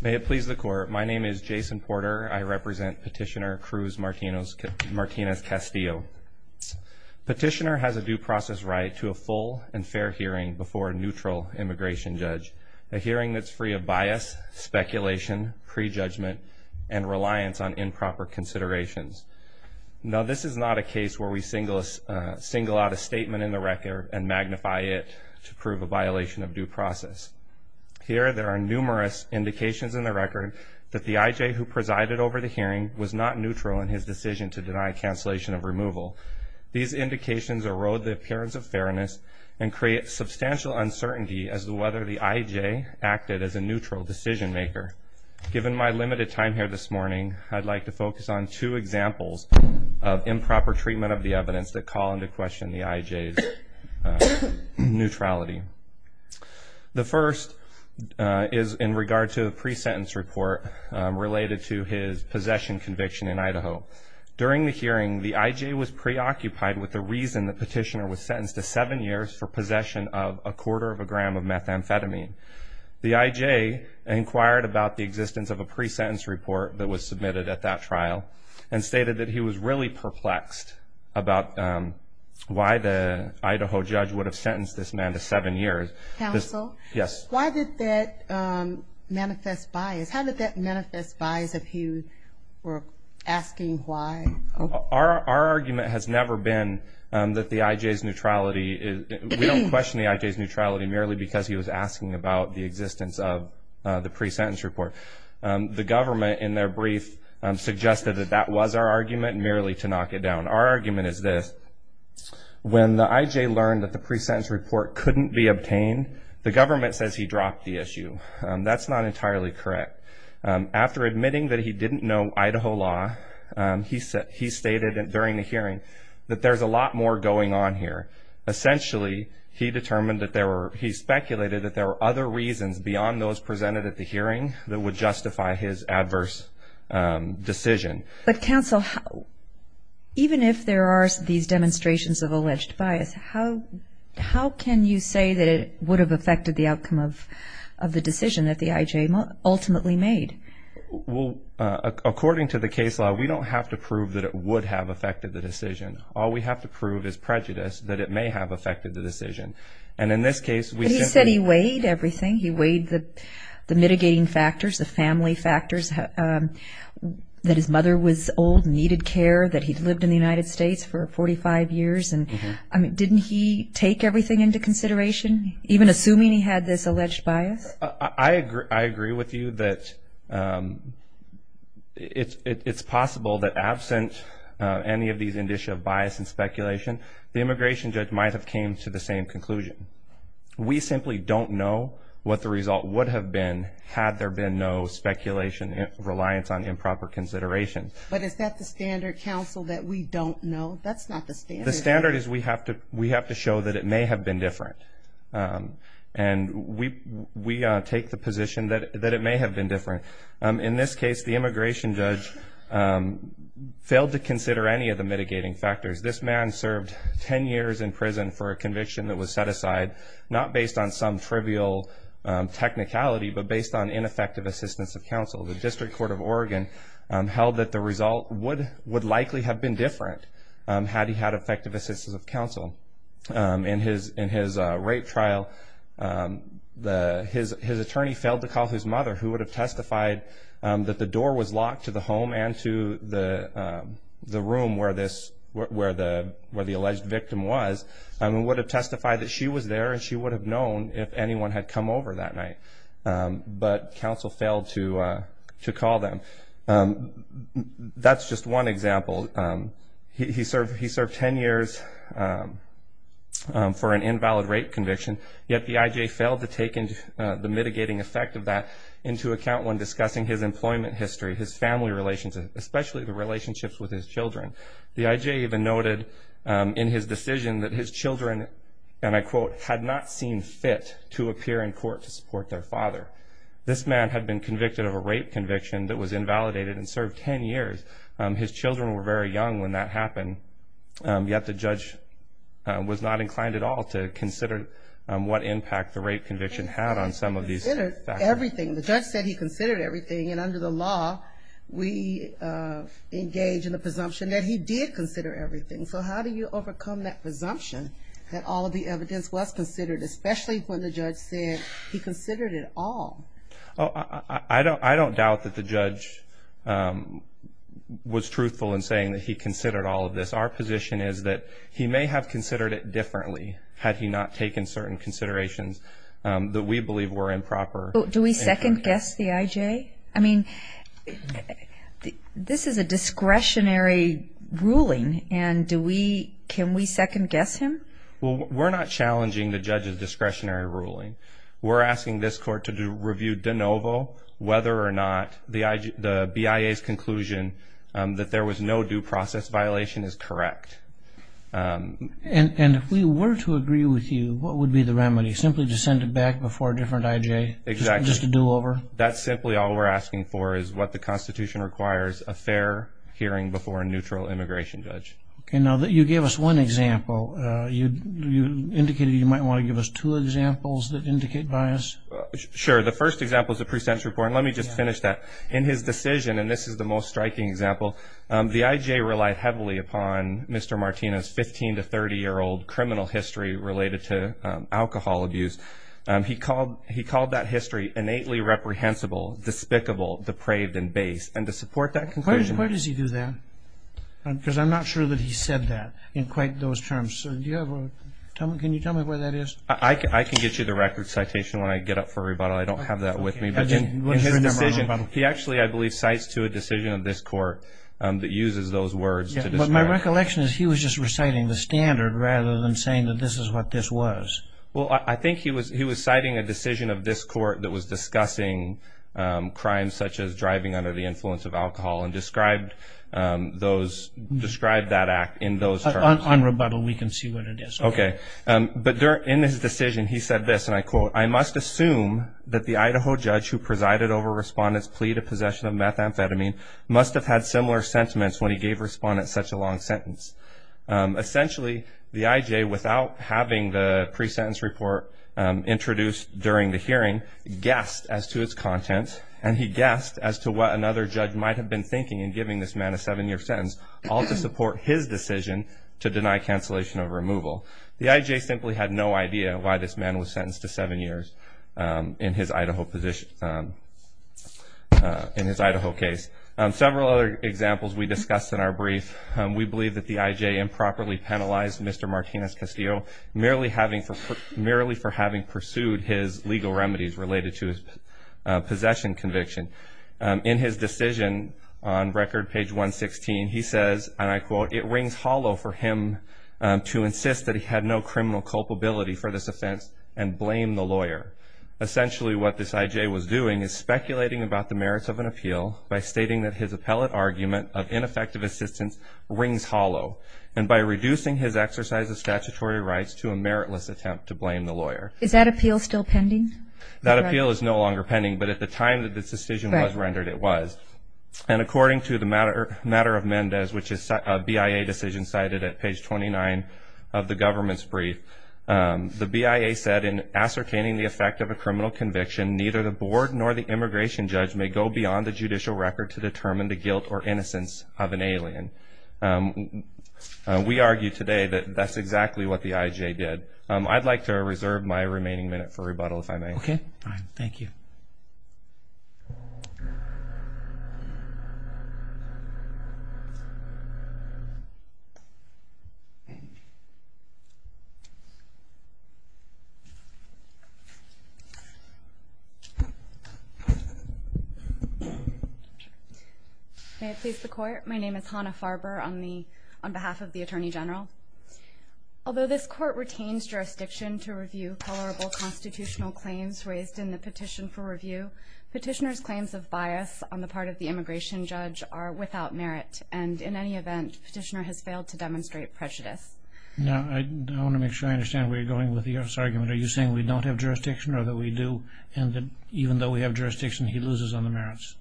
May it please the Court, my name is Jason Porter. I represent Petitioner Cruz Martinez-Castillo. Petitioner has a due process right to a full and fair hearing before a neutral immigration judge. A hearing that's free of bias, speculation, prejudgment, and reliance on improper considerations. Now this is not a case where we single out a statement in the record and indications in the record that the IJ who presided over the hearing was not neutral in his decision to deny cancellation of removal. These indications erode the appearance of fairness and create substantial uncertainty as to whether the IJ acted as a neutral decision maker. Given my limited time here this morning, I'd like to focus on two examples of improper treatment of the evidence that call into question the IJ's neutrality. The first is in regard to the pre-sentence report related to his possession conviction in Idaho. During the hearing, the IJ was preoccupied with the reason the petitioner was sentenced to seven years for possession of a quarter of a gram of methamphetamine. The IJ inquired about the existence of a pre-sentence report that was submitted at that trial and stated that he was really perplexed about why the Idaho judge would have sentenced this man to seven years. Counsel? Yes. Why did that manifest bias? How did that manifest bias if you were asking why? Our argument has never been that the IJ's neutrality is, we don't question the IJ's neutrality merely because he was asking about the existence of the pre-sentence report. The government in their brief suggested that that was our argument merely to knock it down. Our argument is this, when the IJ learned that the pre-sentence report couldn't be obtained, the government says he dropped the issue. That's not entirely correct. After admitting that he didn't know Idaho law, he said he stated during the hearing that there's a lot more going on here. Essentially, he determined that there were, he speculated that there were other reasons beyond those presented at the hearing that would justify his adverse decision. But counsel, even if there are these reasons, how can you say that it would have affected the outcome of the decision that the IJ ultimately made? Well, according to the case law, we don't have to prove that it would have affected the decision. All we have to prove is prejudice that it may have affected the decision. And in this case, we said he weighed everything. He weighed the mitigating factors, the family factors, that his mother was old, needed care, that he'd lived in the United States for 45 years. And didn't he take everything into consideration, even assuming he had this alleged bias? I agree with you that it's possible that absent any of these indicia of bias and speculation, the immigration judge might have came to the same conclusion. We simply don't know what the result would have been had there been no speculation, reliance on improper consideration. But is that the standard, counsel, that we don't know? That's not the standard. The standard is we have to show that it may have been different. And we take the position that it may have been different. In this case, the immigration judge failed to consider any of the mitigating factors. This man served 10 years in prison for a conviction that was set aside not based on some trivial technicality, but based on ineffective assistance of counsel. The District Court of Oregon held that the result would likely have been different had he had effective assistance of counsel. In his rape trial, his attorney failed to call his mother, who would have testified that the door was locked to the home and to the room where the alleged victim was, and would have testified that she was there and she would have known if anyone had come over that night. But counsel failed to call them. That's just one example. He served 10 years for an invalid rape conviction, yet the I.J. failed to take the mitigating effect of that into account when discussing his employment history, his family relationships, especially the relationships with his children. The I.J. even noted in his decision that his children, and I quote, had not seen fit to appear in court to be invalidated and served 10 years. His children were very young when that happened, yet the judge was not inclined at all to consider what impact the rape conviction had on some of these factors. Everything. The judge said he considered everything, and under the law, we engage in the presumption that he did consider everything. So how do you overcome that presumption that all of the evidence was considered, especially when the judge said he considered it all? I don't doubt that the judge was truthful in saying that he considered all of this. Our position is that he may have considered it differently had he not taken certain considerations that we believe were improper. Do we second-guess the I.J.? I mean, this is a discretionary ruling, and can we second-guess him? Well, we're not challenging the judge's discretionary ruling. We're asking this to review de novo whether or not the BIA's conclusion that there was no due process violation is correct. And if we were to agree with you, what would be the remedy? Simply to send it back before a different I.J.? Exactly. Just a do-over? That's simply all we're asking for is what the Constitution requires, a fair hearing before a neutral immigration judge. Okay. Now, you gave us one example. You indicated you might want to give us two examples that indicate bias. Sure. The first example is the pre-sentence report, and let me just finish that. In his decision, and this is the most striking example, the I.J. relied heavily upon Mr. Martina's 15- to 30-year-old criminal history related to alcohol abuse. He called that history innately reprehensible, despicable, depraved, and base. And to support that conclusion... Where does he do that? Because I'm not sure that he said that in quite those terms. Can you tell me where that is? I can get you the record citation when I get up for rebuttal. I don't have that with me. Okay. In his decision, he actually, I believe, cites to a decision of this court that uses those words to describe... But my recollection is he was just reciting the standard rather than saying that this is what this was. Well, I think he was citing a decision of this court that was discussing crimes such as driving under the influence of alcohol and described that act in those terms. On rebuttal, we can see what it is. Okay. But in his decision, he said this, and I quote, I must assume that the Idaho judge who presided over Respondent's plea to possession of methamphetamine must have had similar sentiments when he gave Respondent such a long sentence. Essentially, the IJ, without having the pre-sentence report introduced during the hearing, guessed as to its content, and he guessed as to what another judge might have been thinking in giving this man a seven-year sentence, all to support his decision to deny cancellation of removal. The IJ simply had no idea why this man was sentenced to seven years in his Idaho case. Several other examples we discussed in our brief. We believe that the IJ improperly penalized Mr. Martinez-Castillo merely for having pursued his legal remedies related to his possession conviction. In his decision on record, page 116, he says, and I quote, it rings hollow for him to insist that he had no criminal culpability for this offense and blame the lawyer. Essentially, what this IJ was doing is speculating about the merits of an appeal by stating that his appellate argument of ineffective assistance rings hollow, and by reducing his exercise of statutory rights to a meritless attempt to blame the lawyer. Is that appeal still pending? That appeal is no longer pending, but at the time that this decision was rendered, it was. And according to the matter of Mendez, which is a BIA decision cited at page 29 of the government's brief, the BIA said, in ascertaining the effect of a criminal conviction, neither the board nor the immigration judge may go beyond the judicial record to determine the guilt or innocence of an alien. We argue today that that's exactly what the IJ did. I'd like to reserve my remaining minute for rebuttal, if I may. Okay, fine. Thank you. May it please the Court. My name is Hannah Farber on behalf of the Attorney General. Although this Court retains jurisdiction to review tolerable constitutional claims raised in the petition for review, Petitioner's claims of bias on the part of the immigration judge are without merit, and in any event, Petitioner has failed to demonstrate prejudice. Now, I want to make sure I understand where you're going with the U.S. argument. Are you saying we don't have jurisdiction, or that we do, and that even though we have jurisdiction, he loses on the merits?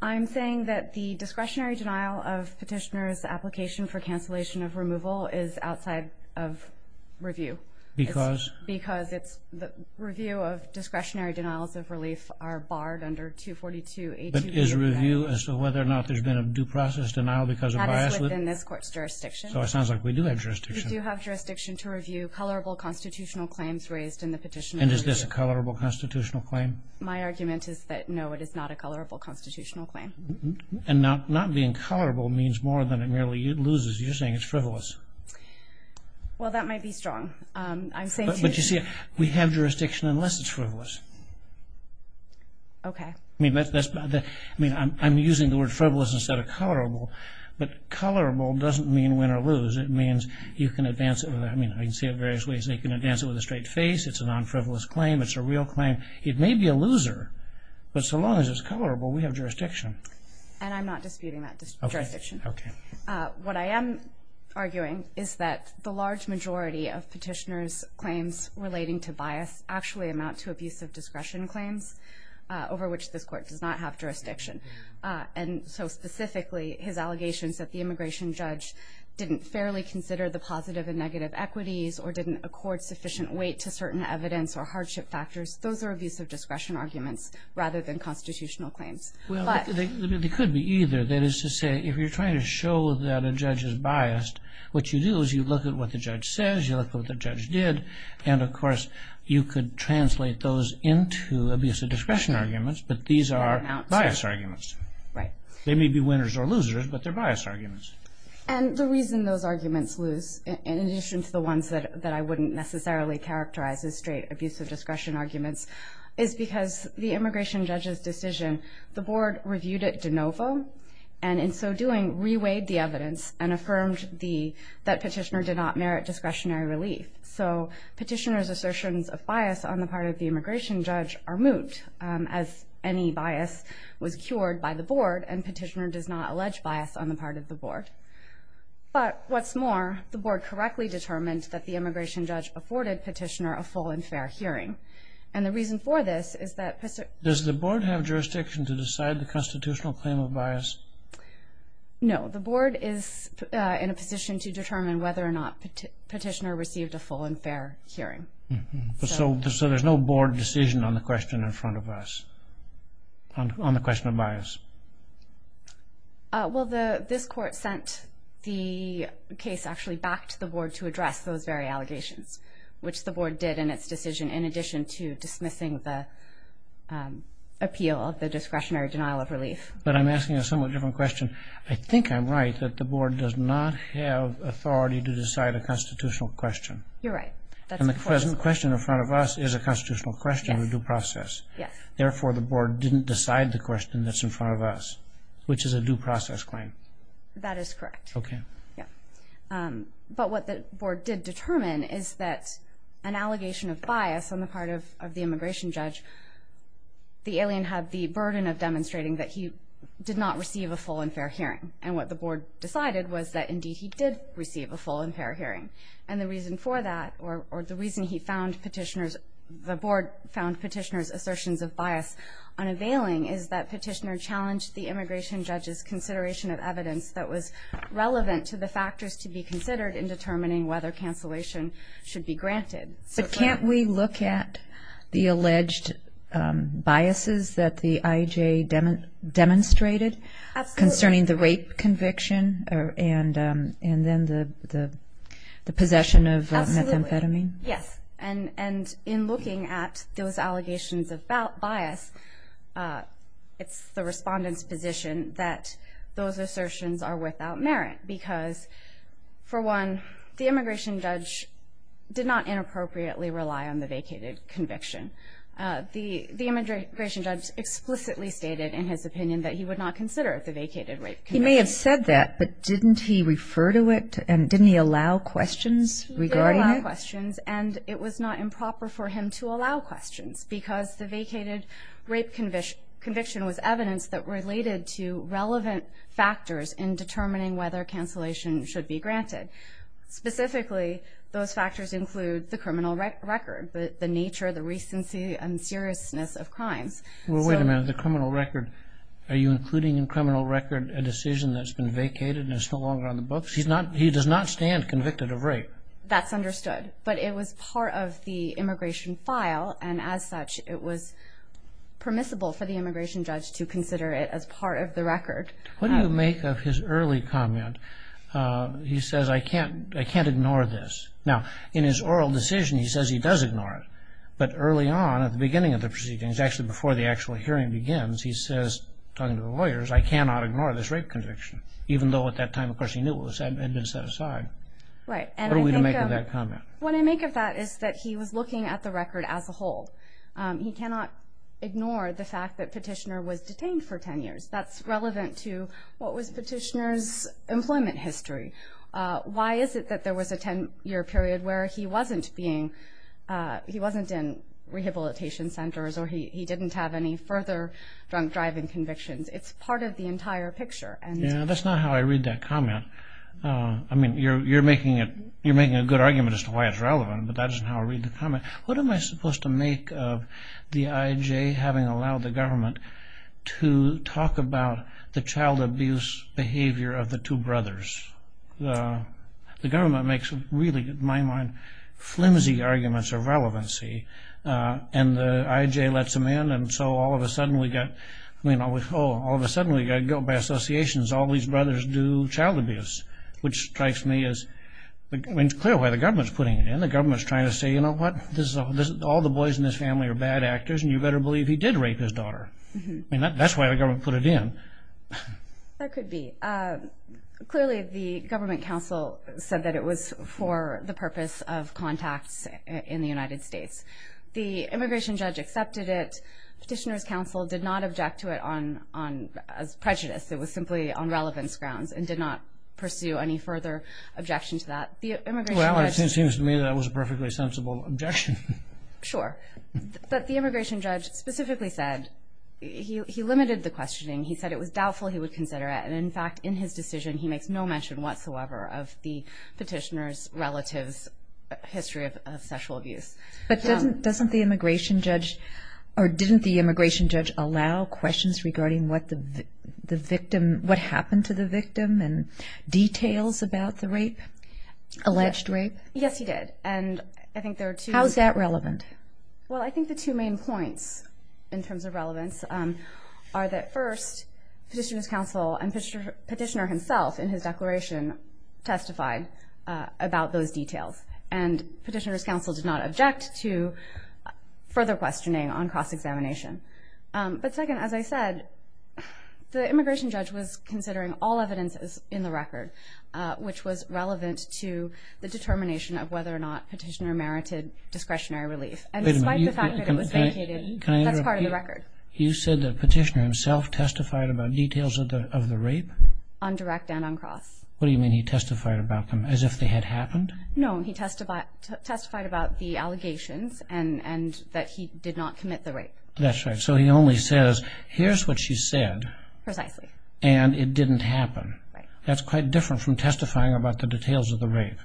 I'm saying that the discretionary denial of Petitioner's application for cancellation of removal is outside of review. Because? Because the review of discretionary denials of relief are barred under 242-8289. But is review as to whether or not there's been a due process denial because of bias? That is within this Court's jurisdiction. So it sounds like we do have jurisdiction. We do have jurisdiction to review tolerable constitutional claims raised in the petition for review. And is this a tolerable constitutional claim? My argument is that, no, it is not a tolerable constitutional claim. And not being tolerable means more than it merely loses. You're saying it's frivolous. Well, that might be strong. But you see, we have jurisdiction unless it's frivolous. Okay. I mean, I'm using the word frivolous instead of tolerable. But tolerable doesn't mean win or lose. It means you can advance it. I mean, I can say it various ways. You can advance it with a straight face. It's a non-frivolous claim. It's a real claim. It may be a loser. But so long as it's tolerable, we have jurisdiction. And I'm not disputing that jurisdiction. Okay. What I am arguing is that the large majority of petitioners' claims relating to bias actually amount to abusive discretion claims over which this court does not have jurisdiction. And so specifically, his allegations that the immigration judge didn't fairly consider the positive and negative equities or didn't accord sufficient weight to certain evidence or hardship factors, those are abusive discretion arguments rather than constitutional claims. Well, they could be either. That is to say, if you're trying to show that a judge is biased, what you do is you look at what the judge says, you look at what the judge did, and of course you could translate those into abusive discretion arguments. But these are bias arguments. Right. They may be winners or losers, but they're bias arguments. And the reason those arguments lose, in addition to the ones that I wouldn't necessarily characterize as straight abusive discretion arguments, is because the immigration judge's decision, the board reviewed it de novo and in so doing, reweighed the evidence and affirmed that petitioner did not merit discretionary relief. So petitioner's assertions of bias on the part of the immigration judge are moot, as any bias was cured by the board and petitioner does not allege bias on the part of the board. But what's more, the board correctly determined that the immigration judge afforded petitioner a full and fair hearing. And the reason for this is that... Does the board have jurisdiction to decide the constitutional claim of bias? No. The board is in a position to determine whether or not petitioner received a full and fair hearing. So there's no board decision on the question in front of us, on the question of bias. Well, this court sent the case actually back to the board to address those very allegations, which the board did in its decision in addition to dismissing the appeal of the discretionary denial of relief. But I'm asking a somewhat different question. I think I'm right that the board does not have authority to decide a constitutional question. You're right. And the question in front of us is a constitutional question of due process. Yes. Therefore, the board didn't decide the question that's in front of us, which is a due process claim. That is correct. Okay. Yeah. But what the board did determine is that an allegation of bias on the part of the immigration judge, the alien had the burden of demonstrating that he did not receive a full and fair hearing. And what the board decided was that, indeed, he did receive a full and fair hearing. And the reason for that, or the reason he found petitioners... The board found petitioners' assertions of bias unavailing is that petitioner challenged the immigration judge's consideration of evidence that was relevant to the factors to be considered in determining whether cancellation should be granted. But can't we look at the alleged biases that the IJ demonstrated... Absolutely. ...concerning the rape conviction and then the possession of methamphetamine? Absolutely. Yes. And in looking at those allegations of bias, it's the respondent's position that those assertions are without merit. Because, for one, the immigration judge did not inappropriately rely on the vacated conviction. The immigration judge explicitly stated in his opinion that he would not consider the vacated rape conviction. He may have said that, but didn't he refer to it? And didn't he allow questions regarding it? He did allow questions, and it was not improper for him to allow questions because the vacated rape conviction was evidence that related to relevant factors in determining whether cancellation should be granted. Specifically, those factors include the criminal record, the nature, the recency, and seriousness of crimes. Well, wait a minute. The criminal record... Are you including in criminal record a decision that's been vacated and is no longer on the books? He does not stand convicted of rape. That's understood. But it was part of the immigration file, and as such, it was permissible for the immigration judge to consider it as part of the record. What do you make of his early comment? He says, I can't ignore this. Now, in his oral decision, he says he does ignore it. But early on, at the beginning of the proceedings, actually before the actual hearing begins, he says, talking to the lawyers, I cannot ignore this rape conviction, even though at that time, of course, he knew it had been set aside. What are we to make of that comment? What I make of that is that he was looking at the record as a whole. He cannot ignore the fact that Petitioner was detained for 10 years. That's relevant to what was Petitioner's employment history. Why is it that there was a 10-year period where he wasn't being... he wasn't in rehabilitation centers or he didn't have any further drunk-driving convictions? It's part of the entire picture. Yeah, that's not how I read that comment. I mean, you're making a good argument as to why it's relevant, but that isn't how I read the comment. What am I supposed to make of the IJ having allowed the government to talk about the child abuse behavior of the two brothers? The government makes really, in my mind, flimsy arguments of relevancy, and the IJ lets them in, and so all of a sudden we got... I mean, oh, all of a sudden we got guilt by associations. All these brothers do child abuse, which strikes me as... I mean, it's clear why the government's putting it in. The government's trying to say, you know what? All the boys in this family are bad actors, and you better believe he did rape his daughter. I mean, that's why the government put it in. That could be. Clearly, the government counsel said that it was for the purpose of contacts in the United States. The immigration judge accepted it. Petitioner's counsel did not object to it as prejudice. It was simply on relevance grounds and did not pursue any further objection to that. Well, it seems to me that was a perfectly sensible objection. Sure, but the immigration judge specifically said... He limited the questioning. He said it was doubtful he would consider it, and in fact, in his decision, he makes no mention whatsoever of the petitioner's relative's history of sexual abuse. But doesn't the immigration judge... or didn't the immigration judge allow questions regarding what the victim... what happened to the victim and details about the rape? Alleged rape? Yes, he did, and I think there are two... How is that relevant? Well, I think the two main points in terms of relevance are that first, petitioner's counsel and petitioner himself in his declaration testified about those details, and petitioner's counsel did not object to further questioning on cross-examination. But second, as I said, the immigration judge was considering all evidences in the record which was relevant to the determination of whether or not petitioner merited discretionary relief. And despite the fact that it was vacated, that's part of the record. You said that petitioner himself testified about details of the rape? On direct and on cross. What do you mean he testified about them? As if they had happened? No, he testified about the allegations and that he did not commit the rape. That's right, so he only says here's what she said and it didn't happen. That's quite different from testifying about the details of the rape.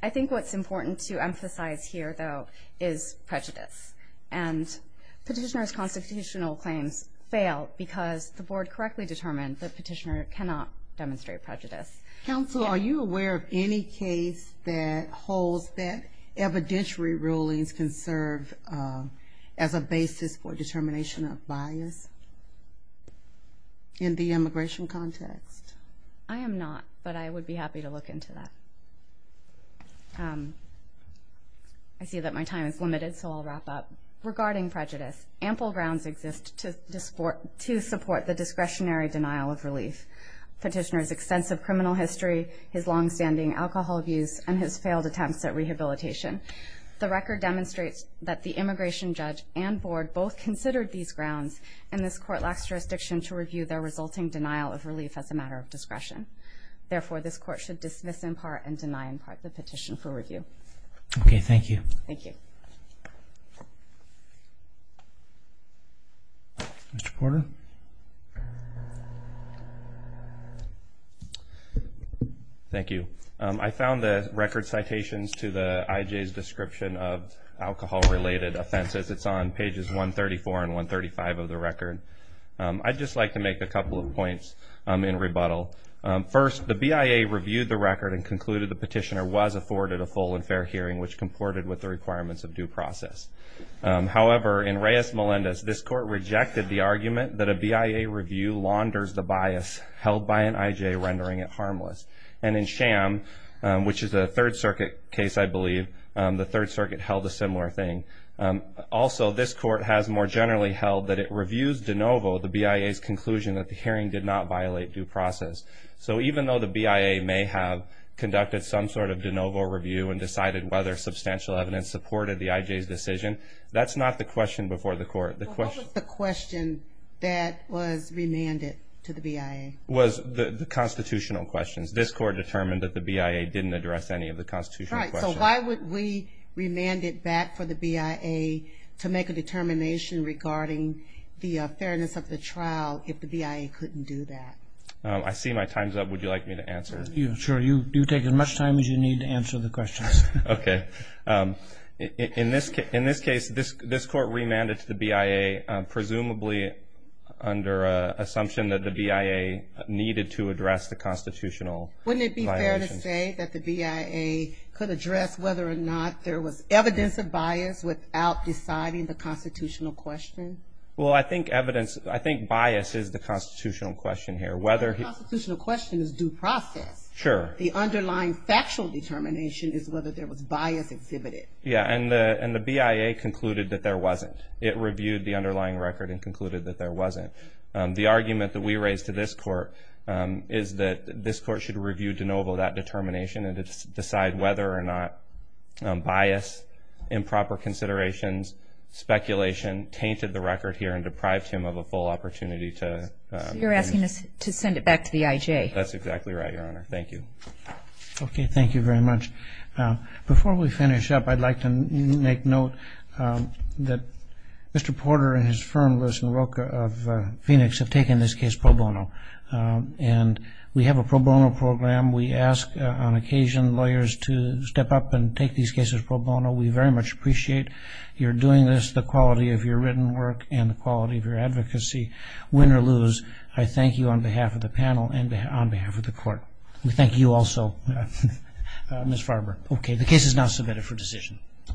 I think what's important to emphasize here, though, is prejudice, and petitioner's constitutional claims failed because the board correctly determined that petitioner cannot demonstrate prejudice. Counsel, are you aware of any case that holds that evidentiary rulings can serve as a basis for determination of bias in the immigration context? I am not, but I would be happy to look into that. I see that my time is limited, so I'll wrap up. Regarding prejudice, ample grounds exist to support the discretionary denial of relief. Petitioner's extensive criminal history, his longstanding alcohol abuse, and his failed attempts at rehabilitation. The record demonstrates that the immigration judge and board both considered these grounds, and this court lacks jurisdiction to review their resulting denial of relief as a matter of discretion. Therefore, this court should dismiss in part and deny in part the petition for review. Okay, thank you. Mr. Porter? Thank you. I found the record citations to the IJ's description of alcohol-related offenses. It's on pages 134 and 135 of the record. I'd just like to make a couple of points in rebuttal. First, the BIA reviewed the record and concluded the petitioner was afforded a full and fair hearing which comported with the requirements of due process. However, in Reyes-Melendez, this court rejected the argument that a BIA review launders the bias held by an IJ, rendering it harmless. And in Sham, which is a Third Circuit case, I believe, the Third Circuit held a similar thing. Also, this court has more generally held that it reviews de novo the BIA's conclusion that the hearing did not violate due process. So even though the BIA may have conducted some sort of de novo review and decided whether substantial evidence supported the IJ's decision, that's not the question before the court. What was the question that was remanded to the BIA? It was the constitutional questions. This court determined that the BIA didn't address any of the constitutional questions. So why would we remand it back for the BIA to make a determination regarding the fairness of the trial if the BIA couldn't do that? I see my time's up. Would you like me to answer? Sure. You take as much time as you need to answer the questions. Okay. In this case, this court remanded to the BIA, presumably under an assumption that the BIA needed to address the constitutional violations. Wouldn't it be fair to say that the BIA could address whether or not there was evidence of bias without deciding the constitutional question? Well, I think evidence I think bias is the constitutional question here. The constitutional question is due process. Sure. The underlying factual determination is whether there was bias exhibited. Yeah, and the BIA concluded that there wasn't. It reviewed the underlying record and concluded that there wasn't. The argument that we raised to this court is that this court should review de novo that determination and decide whether or not bias, improper considerations, speculation, tainted the record here and deprived him of a full opportunity to... You're asking us to send it back to the IJ. That's exactly right, Your Honor. Thank you. Okay, thank you very much. Before we finish up, I'd like to make note that Mr. Porter and his firm, Lewis & Rocha of Phoenix, have taken this case pro bono. We have a pro bono program. We ask, on occasion, lawyers to step up and take these cases pro bono. We very much appreciate your doing this, the quality of your written work and the quality of your advocacy. Win or lose, I thank you on behalf of the panel and on behalf of the court. We thank you also, Ms. Farber. Okay, the case is now submitted for decision.